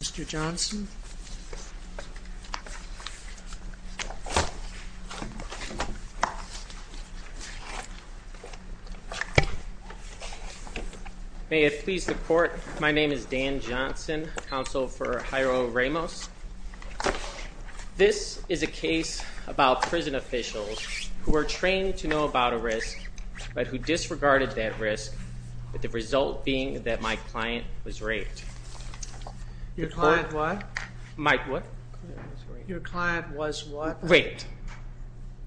Mr. Johnson, may it please the court, my name is Dan Johnson, counsel for Jairo Ramos. This is a case about prison officials who were trained to know about a risk, but who disregarded that risk, with the result being that my client was raped. Your client what? My what? Your client was what? Raped.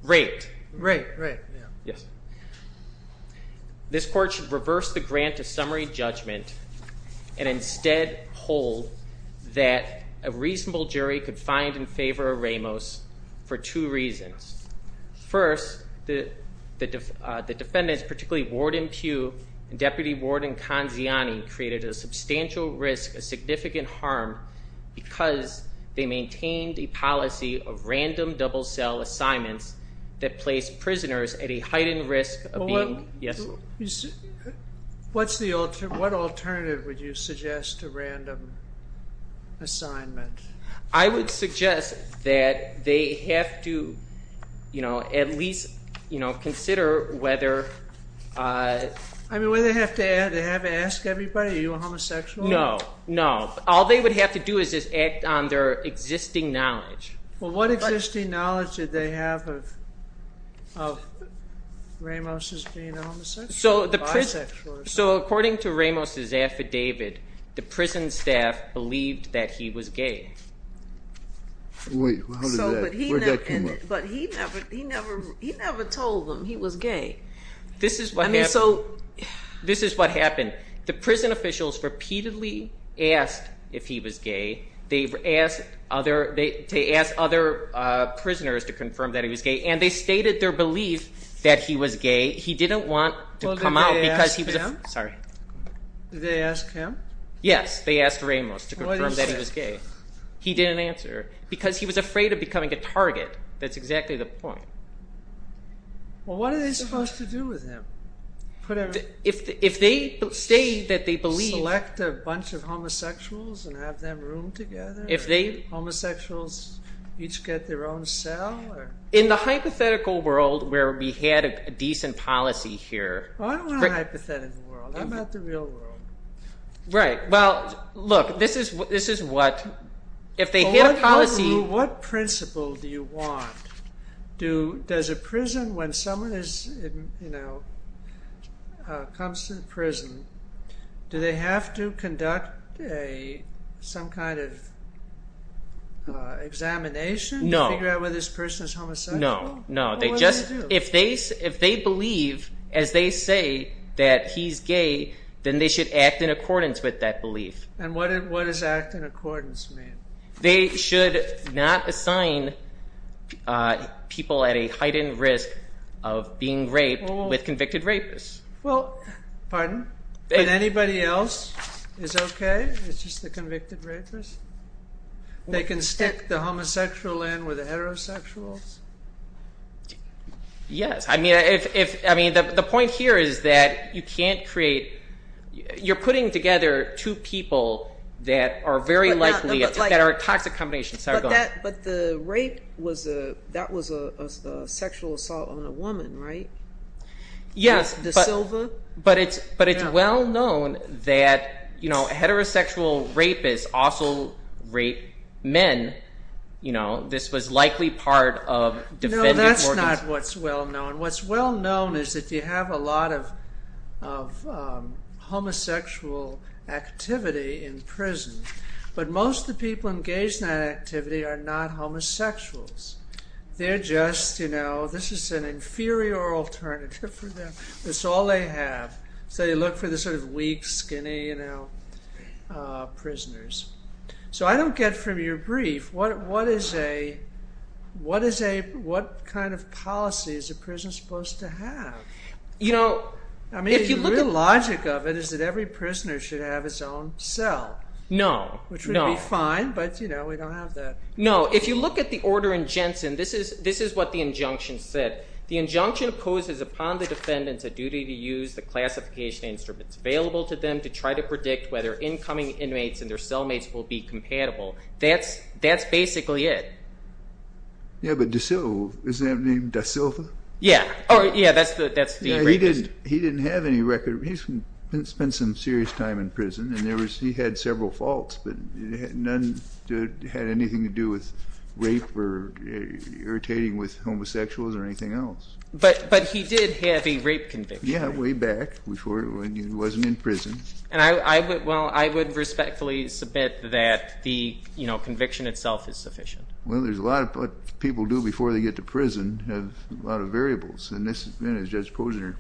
Raped. Raped. Raped. Yeah. Yes. This court should reverse the grant of summary judgment and instead hold that a reasonable jury could find in favor of Ramos for two reasons. First, the defendants, particularly Warden Pugh and Deputy Warden Conziani, created a substantial risk, a significant harm, because they maintained a policy of random double cell assignments that placed prisoners at a heightened risk of being, yes. What's the alternative, what alternative would you suggest to random assignment? I would suggest that they have to, you know, at least, you know, consider whether. I mean, whether they have to ask everybody, are you a homosexual? No. No. All they would have to do is act on their existing knowledge. Well, what existing knowledge did they have of Ramos as being a homosexual or bisexual? So according to Ramos' affidavit, the prison staff believed that he was gay. Wait, how did that, where did that come up? But he never, he never, he never told them he was gay. This is what happened. I mean, so. This is what happened. The prison officials repeatedly asked if he was gay. They asked other, they asked other prisoners to confirm that he was gay, and they stated their belief that he was gay. He didn't want to come out because he was a, sorry. Did they ask him? Yes, they asked Ramos to confirm that he was gay. He didn't answer. Because he was afraid of becoming a target. That's exactly the point. Well, what are they supposed to do with him? If they state that they believe. Select a bunch of homosexuals and have them room together? If they. Homosexuals each get their own cell or? In the hypothetical world where we had a decent policy here. I don't want a hypothetical world, I want the real world. Right. Well, look. This is, this is what. If they hit a policy. What principle do you want? Do, does a prison, when someone is, you know, comes to the prison, do they have to conduct a, some kind of examination? No. To figure out whether this person is homosexual? No, no. What do they do? They just, if they, if they believe as they say that he's gay, then they should act in accordance with that belief. And what is, what does act in accordance mean? They should not assign people at a heightened risk of being raped with convicted rapists. Well, pardon, but anybody else is okay? It's just the convicted rapists? They can stick the homosexual in with heterosexuals? Yes. I mean, if, if, I mean, the point here is that you can't create, you're putting together two people that are very likely, that are a toxic combination. But that, but the rape was a, that was a sexual assault on a woman, right? Yes. The Silva? But it's, but it's well known that, you know, heterosexual rapists also rape men. You know, this was likely part of defended organs. No, that's not what's well known. What's well known is that you have a lot of, of homosexual activity in prison, but most of the people engaged in that activity are not homosexuals. They're just, you know, this is an inferior alternative for them. That's all they have. So you look for the sort of weak, skinny, you know, prisoners. So I don't get from your brief, what, what is a, what is a, what kind of policy is a prison supposed to have? You know, I mean, if you look at the logic of it, is that every prisoner should have his own cell. No, no. Which would be fine, but you know, we don't have that. No, if you look at the order in Jensen, this is, this is what the injunction said. The injunction poses upon the defendants a duty to use the classification instruments available to them to try to predict whether incoming inmates and their cellmates will be compatible. That's, that's basically it. Yeah, but DeSilvo, is that named DeSilva? Yeah. Oh yeah, that's the, that's the. He didn't, he didn't have any record, he spent some serious time in prison and there was, he had several faults, but none had anything to do with rape or irritating with homosexuals or anything else. But, but he did have a rape conviction. Yeah, way back before, when he wasn't in prison. And I, I would, well, I would respectfully submit that the, you know, conviction itself is sufficient. Well, there's a lot of, what people do before they get to prison have a lot of variables and this has been, as Judge Posner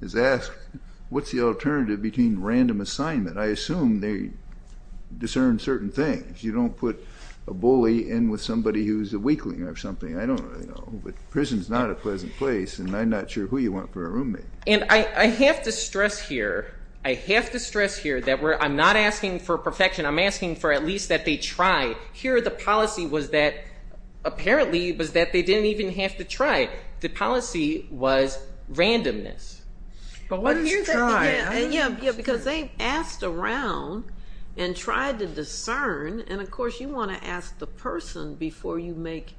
has asked, what's the alternative between random assignment? I assume they discern certain things. You don't put a bully in with somebody who's a weakling or something. I don't really know. But prison's not a pleasant place and I'm not sure who you want for a roommate. And I, I have to stress here, I have to stress here that we're, I'm not asking for perfection. I'm asking for at least that they try. Here the policy was that, apparently, was that they didn't even have to try. The policy was randomness. But what did you try? Yeah, yeah, because they asked around and tried to discern. And of course you want to ask the person before you make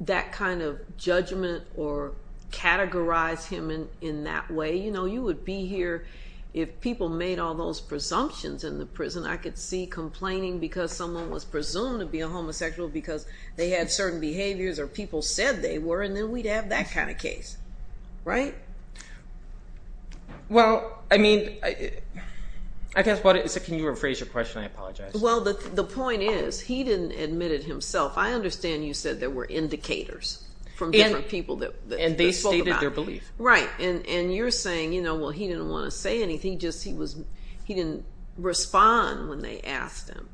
that kind of judgment or categorize him in that way. You know, you would be here if people made all those presumptions in the prison. I could see complaining because someone was presumed to be a homosexual because they had certain behaviors or people said they were and then we'd have that kind of case. Right? Well, I mean, I guess what it is, can you rephrase your question? I apologize. Well, the point is, he didn't admit it himself. I understand you said there were indicators from different people that spoke about it. Right. And you're saying, you know, well, he didn't want to say anything, just he was, he didn't respond when they asked him.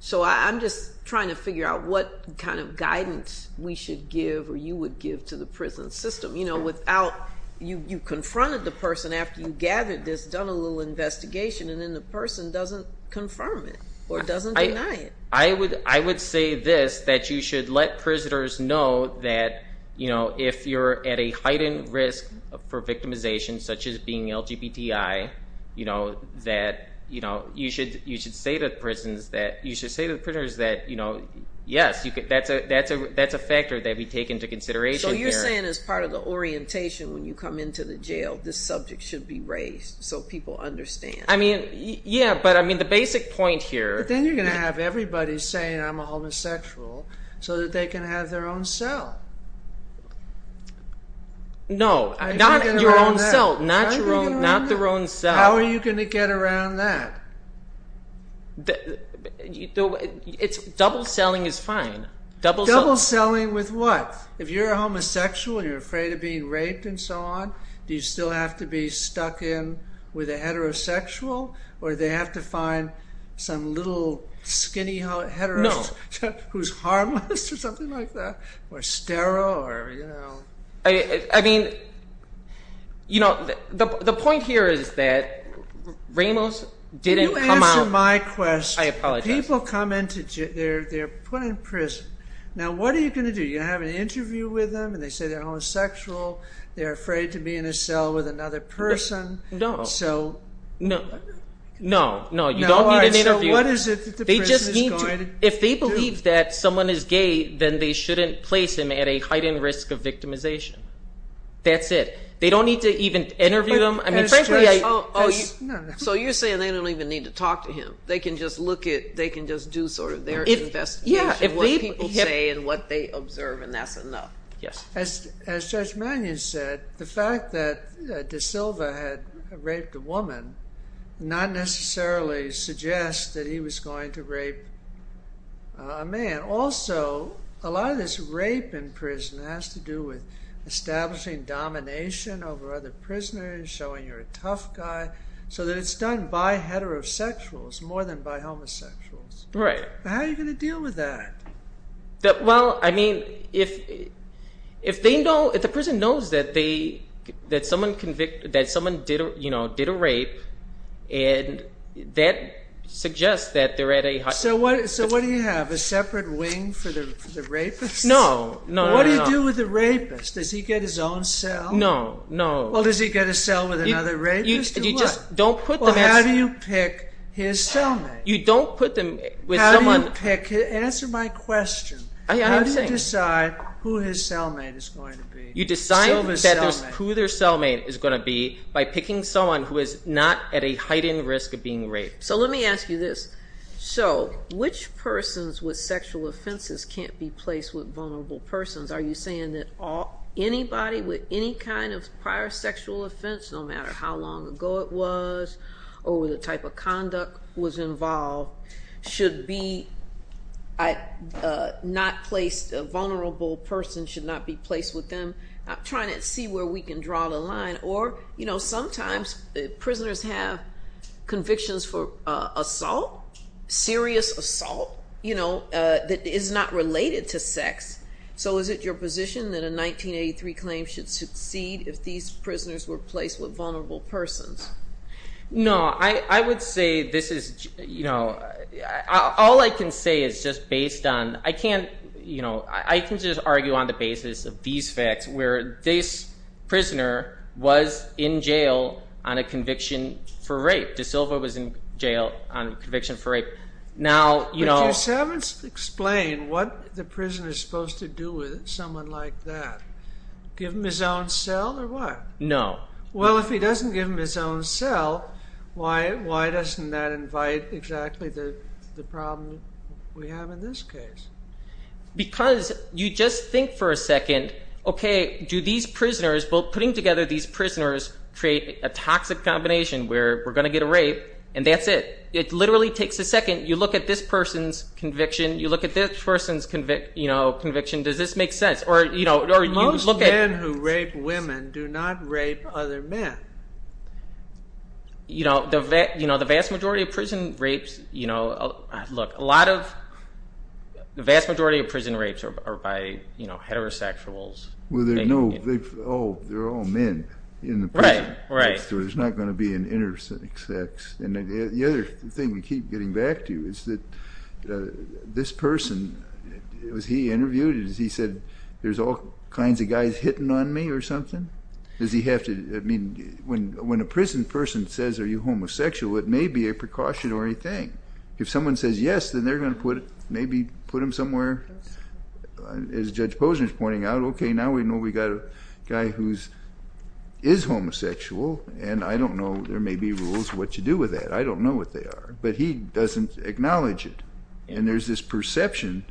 So I'm just trying to figure out what kind of guidance we should give or you would give to the prison system. You know, without, you confronted the person after you gathered this, done a little investigation and then the person doesn't confirm it or doesn't deny it. I would say this, that you should let prisoners know that, you know, if you're at a heightened risk for victimization, such as being LGBTI, you know, that, you know, you should say to the prisons that, you should say to the prisoners that, you know, yes, that's a factor that we take into consideration. So you're saying as part of the orientation when you come into the jail, this subject should be raised so people understand. I mean, yeah, but I mean, the basic point here. But then you're going to have everybody saying I'm a homosexual so that they can have their own cell. No, not your own cell, not your own, not their own cell. How are you going to get around that? It's double selling is fine. Double selling with what? If you're a homosexual and you're afraid of being raped and so on, do you still have to be stuck in with a heterosexual or they have to find some little skinny heterosexual who's harmless or something like that or sterile or, you know. I mean, you know, the point here is that Ramos didn't come out. You answered my question. I apologize. People come into jail, they're put in prison. Now, what are you going to do? You have an interview with them and they say they're homosexual. They're afraid to be in a cell with another person. No, no, no, no. You don't need an interview. So what is it that the person is going to do? If they believe that someone is gay, then they shouldn't place him at a heightened risk of victimization. That's it. They don't need to even interview them. I mean, frankly, I... So you're saying they don't even need to talk to him. They can just look at, they can just do sort of their investigation, what people say and what they observe. And that's enough. Yes. As Judge Mannion said, the fact that De Silva had raped a woman not necessarily suggests that he was going to rape a man. Also, a lot of this rape in prison has to do with establishing domination over other prisoners, showing you're a tough guy, so that it's done by heterosexuals more than by homosexuals. Right. How are you going to deal with that? Well, I mean, if they know, if the person knows that they, that someone convicted, that someone did, you know, did a rape and that suggests that they're at a high... So what do you have, a separate wing for the rapist? No, no, no, no. What do you do with the rapist? Does he get his own cell? No, no. Well, does he get a cell with another rapist or what? You just don't put them... Well, how do you pick his cellmate? You don't put them with someone... Answer my question. How do you decide who his cellmate is going to be? You decide who their cellmate is going to be by picking someone who is not at a heightened risk of being raped. So let me ask you this. So which persons with sexual offenses can't be placed with vulnerable persons? Are you saying that anybody with any kind of prior sexual offense, no matter how long ago it was, or the type of conduct was involved, should be not placed, a vulnerable person should not be placed with them? I'm trying to see where we can draw the line. Or, you know, sometimes prisoners have convictions for assault, serious assault, you know, that is not related to sex. So is it your position that a 1983 claim should succeed if these prisoners were placed with vulnerable persons? No, I would say this is, you know, all I can say is just based on... I can't, you know, I can just argue on the basis of these facts, where this prisoner was in jail on a conviction for rape, De Silva was in jail on a conviction for rape. Now, you know... But you haven't explained what the prisoner is supposed to do with someone like that. Give him his own cell or what? No. Well, if he doesn't give him his own cell, why doesn't that invite exactly the problem we have in this case? Because you just think for a second, okay, do these prisoners, well, putting together these prisoners create a toxic combination where we're going to get a rape, and that's it. It literally takes a second. You look at this person's conviction, you look at this person's conviction, does this make sense? Or, you know... Men who rape women do not rape other men. You know, the vast majority of prison rapes, you know, look, a lot of... The vast majority of prison rapes are by, you know, heterosexuals. Well, there are no... Oh, they're all men in the prison. Right, right. So there's not going to be an intersex. And the other thing we keep getting back to is that this person, as he interviewed it, is he said, there's all kinds of guys hitting on me or something? Does he have to... I mean, when a prison person says, are you homosexual, it may be a precautionary thing. If someone says yes, then they're going to put it, maybe put him somewhere, as Judge Posner is pointing out, okay, now we know we got a guy who is homosexual, and I don't know, there may be rules what you do with that. I don't know what they are. But he doesn't acknowledge it. And there's this perception,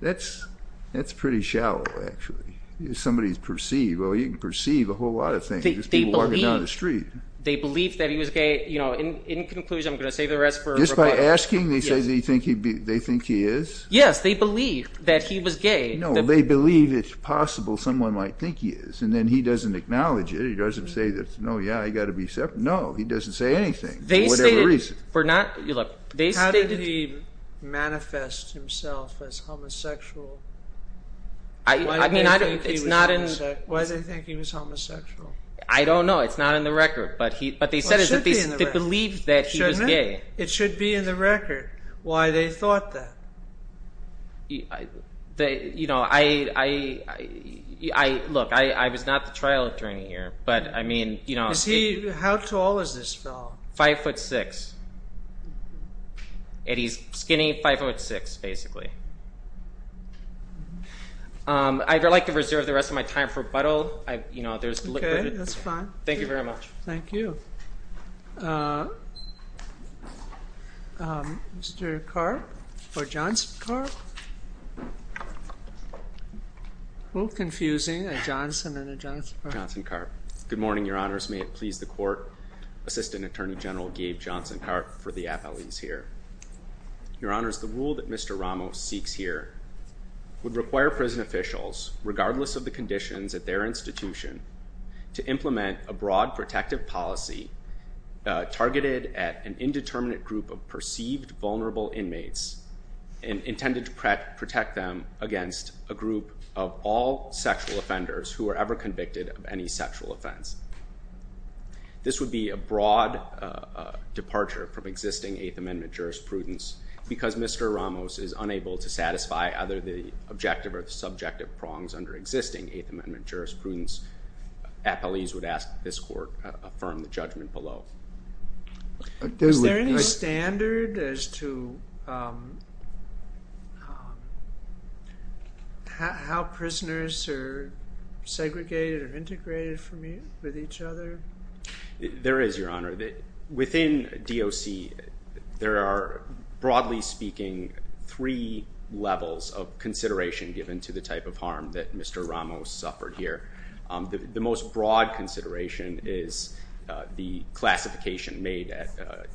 that's pretty shallow, actually. Somebody's perceived. Well, you can perceive a whole lot of things, just people walking down the street. They believe that he was gay, you know, in conclusion, I'm going to save the rest for a rebuttal. Just by asking, they say they think he is? Yes, they believe that he was gay. No, they believe it's possible someone might think he is, and then he doesn't acknowledge it. He doesn't say, no, yeah, I got to be separate. No, he doesn't say anything, for whatever reason. How did he manifest himself as homosexual? Why do they think he was homosexual? I don't know, it's not in the record, but what they said is that they believed that he was gay. It should be in the record, why they thought that. You know, I, look, I was not the trial attorney here, but I mean, you know. How tall is this fellow? Five foot six. And he's skinny, five foot six, basically. I'd like to reserve the rest of my time for rebuttal. Okay, that's fine. Thank you very much. Thank you. Mr. Karp? Or Johnson Karp? Little confusing, a Johnson and a Johnson Karp. Johnson Karp. Good morning, your honors. Your honors, may it please the court, Assistant Attorney General Gabe Johnson Karp for the appellees here. Your honors, the rule that Mr. Ramos seeks here would require prison officials, regardless of the conditions at their institution, to implement a broad protective policy targeted at an indeterminate group of perceived vulnerable inmates, and intended to protect them against a group of all sexual offenders who are ever convicted of any sexual offense. This would be a broad departure from existing Eighth Amendment jurisprudence. Because Mr. Ramos is unable to satisfy either the objective or the subjective prongs under existing Eighth Amendment jurisprudence, appellees would ask that this court affirm the judgment below. Is there any standard as to how prisoners are segregated or integrated with each other? There is, your honor. Within DOC, there are, broadly speaking, three levels of consideration given to the type of harm that Mr. Ramos suffered here. The most broad consideration is the classification made at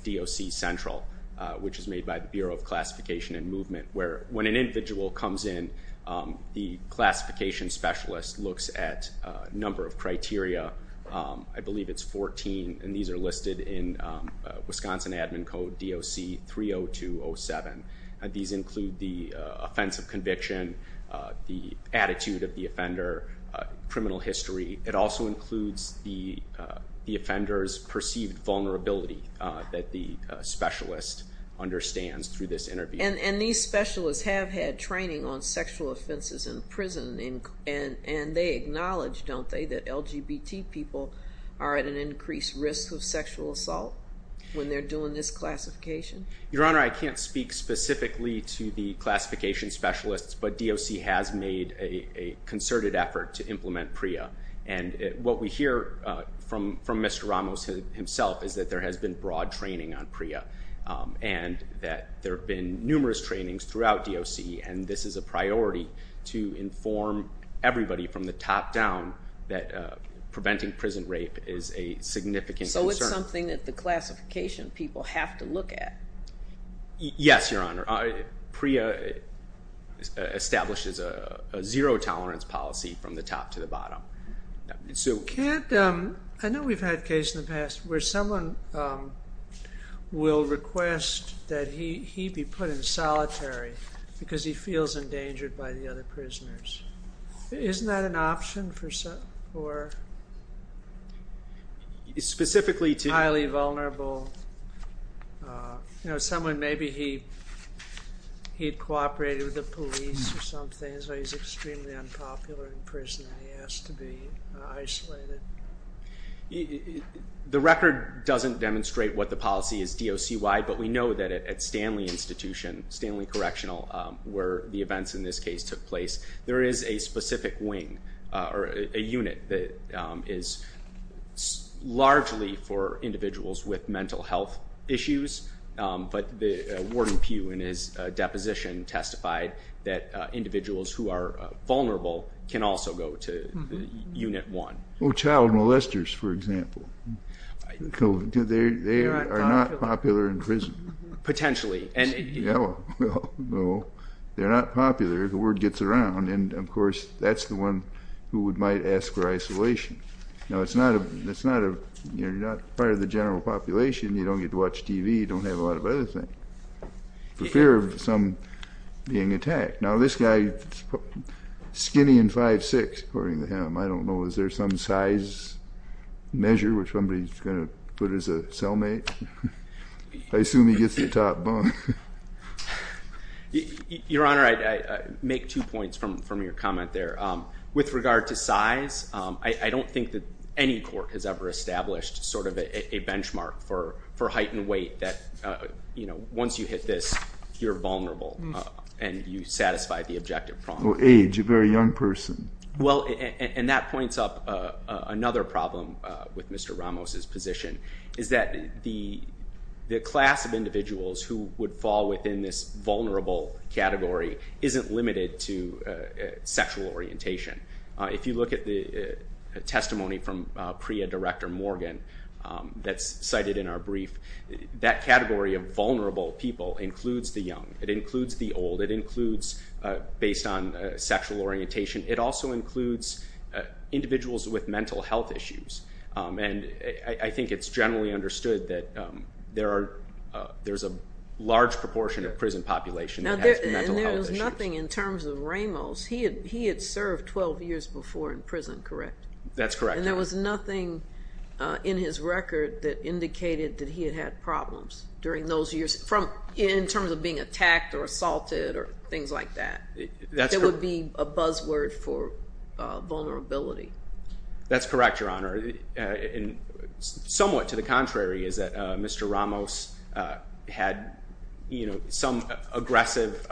DOC Central, which is made by the Bureau of Classification and Movement, where when an individual comes in, the classification specialist looks at a number of criteria. I believe it's 14, and these are listed in Wisconsin Admin Code, DOC 30207. These include the offense of conviction, the attitude of the offender, criminal history. It also includes the offender's perceived vulnerability that the specialist understands through this interview. And these specialists have had training on sexual offenses in prison, and they acknowledge, don't they, that LGBT people are at an increased risk of sexual assault when they're doing this classification? Your honor, I can't speak specifically to the classification specialists, but DOC has made a concerted effort to implement PREA. And what we hear from Mr. Ramos himself is that there has been broad training on PREA, and that there have been numerous trainings throughout DOC, and this is a priority to inform everybody from the top down that preventing prison rape is a significant concern. Is this something that the classification people have to look at? Yes, your honor. PREA establishes a zero-tolerance policy from the top to the bottom. I know we've had a case in the past where someone will request that he be put in solitary because he feels endangered by the other prisoners. Isn't that an option? Or highly vulnerable? You know, someone, maybe he had cooperated with the police or something, so he's extremely unpopular in prison, and he has to be isolated. The record doesn't demonstrate what the policy is DOC-wide, but we know that at Stanley Institution, Stanley Correctional, where the events in this case took place, there is a specific wing or a unit that is largely for individuals with mental health issues, but Warden Pugh in his deposition testified that individuals who are vulnerable can also go to Unit 1. Child molesters, for example, they are not popular in prison. Potentially. No, they're not popular, the word gets around, and of course that's the one who might ask for isolation. Now, it's not, you're not part of the general population, you don't get to watch TV, you don't have a lot of other things, for fear of some being attacked. Now this guy, skinny and 5'6", according to him, I don't know, is there some size measure which somebody's going to put as a cellmate? I assume he gets the top bunk. Your Honor, I make two points from your comment there. With regard to size, I don't think that any court has ever established sort of a benchmark for height and weight that, you know, once you hit this, you're vulnerable and you satisfy the objective problem. Or age, a very young person. Well, and that points up another problem with Mr. Ramos' position, is that the class of individuals who would fall within this vulnerable category isn't limited to sexual orientation. If you look at the testimony from PREA Director Morgan, that's cited in our brief, that category of vulnerable people includes the young, it includes the old, it includes, based on sexual orientation, it also includes individuals with mental health issues. And I think it's generally understood that there's a large proportion of prison population that has mental health issues. And there was nothing in terms of Ramos, he had served 12 years before in prison, correct? That's correct, Your Honor. And there was nothing in his record that indicated that he had had problems during those years, in terms of being attacked or assaulted or things like that. That's correct. It would be a buzzword for vulnerability. That's correct, Your Honor, and somewhat to the contrary is that Mr. Ramos had, you know, some aggressive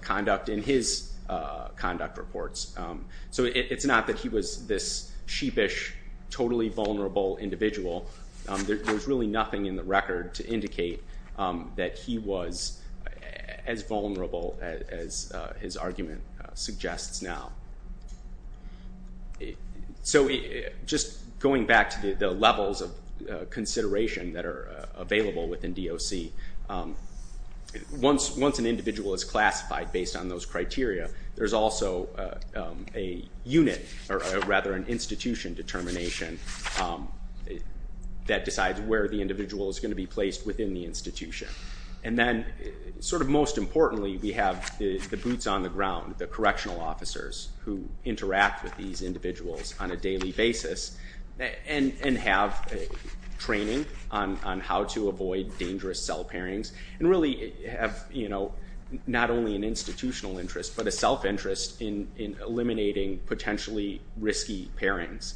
conduct in his conduct reports. So it's not that he was this sheepish, totally vulnerable individual, there's really nothing in the record to indicate that he was as vulnerable as his argument suggests now. So just going back to the levels of consideration that are available within DOC, once an individual is classified based on those criteria, there's also a unit, or rather an institution determination that decides where the individual is going to be placed within the institution. And then, sort of most importantly, we have the boots on the ground, the correctional officers who interact with these individuals on a daily basis and have training on how to avoid dangerous cell pairings and really have, you know, not only an institutional interest but a self-interest in eliminating potentially risky pairings.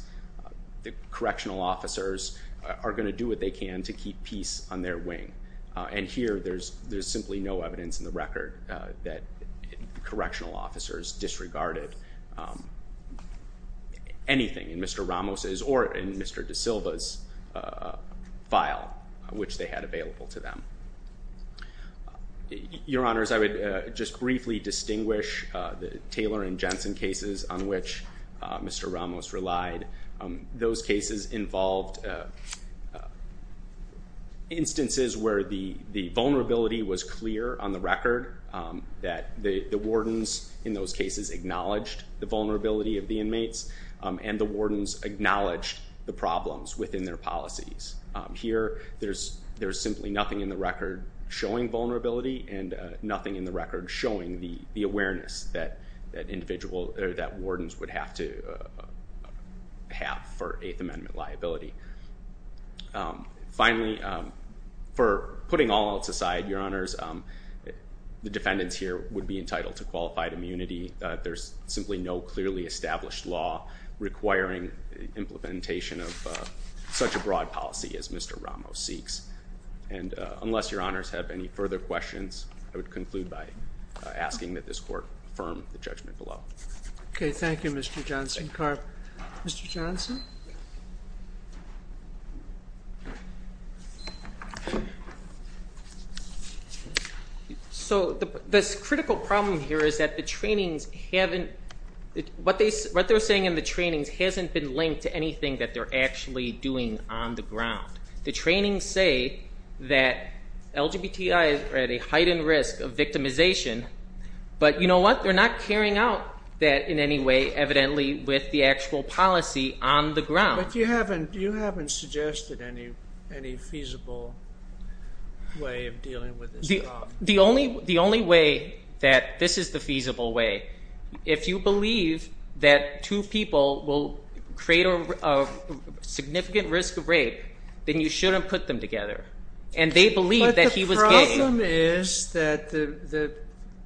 The correctional officers are going to do what they can to keep peace on their wing. And here, there's simply no evidence in the record that correctional officers disregarded anything in Mr. Ramos's or in Mr. DaSilva's file, which they had available to them. Your Honors, I would just briefly distinguish the Taylor and Jensen cases on which Mr. Ramos relied. Those cases involved instances where the vulnerability was clear on the record, that the wardens in those cases acknowledged the vulnerability of the inmates, and the wardens acknowledged the problems within their policies. Here, there's simply nothing in the record showing vulnerability and nothing in the record showing the awareness that individual or that wardens would have to have for Eighth Amendment liability. Finally, for putting all else aside, Your Honors, the defendants here would be entitled to qualified immunity. There's simply no clearly established law requiring implementation of such a broad policy as Mr. Ramos seeks. And unless Your Honors have any further questions, I would conclude by asking that this Court affirm the judgment below. Okay. Thank you, Mr. Johnson. Thank you. Mr. Johnson? So, this critical problem here is that the trainings haven't, what they're saying in the trainings hasn't been linked to anything that they're actually doing on the ground. The trainings say that LGBTIs are at a heightened risk of victimization, but you know what? They're not carrying out that in any way, evidently, with the actual policy on the ground. But you haven't suggested any feasible way of dealing with this problem. The only way that this is the feasible way, if you believe that two people will create a significant risk of rape, then you shouldn't put them together. And they believe that he was gay. The problem is that the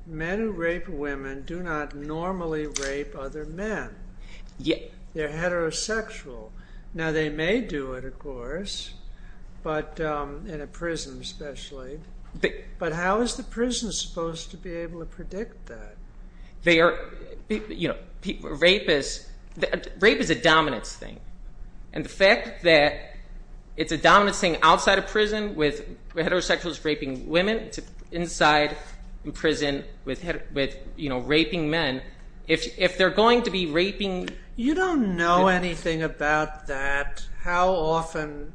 men who rape women do not normally rape other men. They're heterosexual. Now, they may do it, of course, but in a prison, especially. But how is the prison supposed to be able to predict that? They are, you know, rapists, rape is a dominance thing. And the fact that it's a dominance thing outside of prison with heterosexuals raping women, inside prison with, you know, raping men, if they're going to be raping- You don't know anything about that, how often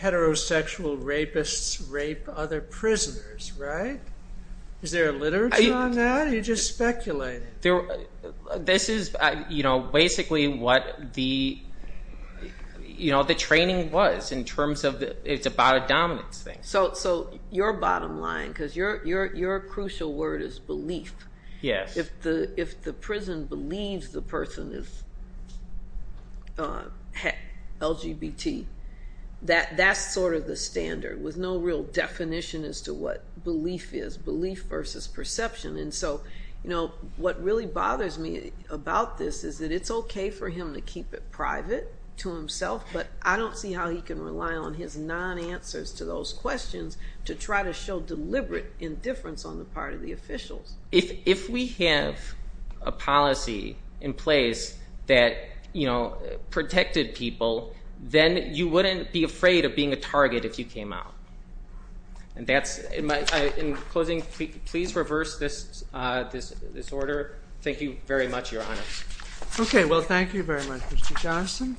heterosexual rapists rape other prisoners, right? Is there a literature on that, or are you just speculating? This is, you know, basically what the training was, in terms of it's about a dominance thing. So your bottom line, because your crucial word is belief. If the prison believes the person is LGBT, that's sort of the standard, with no real definition as to what belief is. Belief versus perception. And so, you know, what really bothers me about this is that it's okay for him to keep it private to himself, but I don't see how he can rely on his non-answers to those questions to try to show deliberate indifference on the part of the officials. If we have a policy in place that, you know, protected people, then you wouldn't be afraid of being a target if you came out. And that's, in closing, please reverse this order. Thank you very much, Your Honor. Okay, well thank you very much, Mr. Johnson.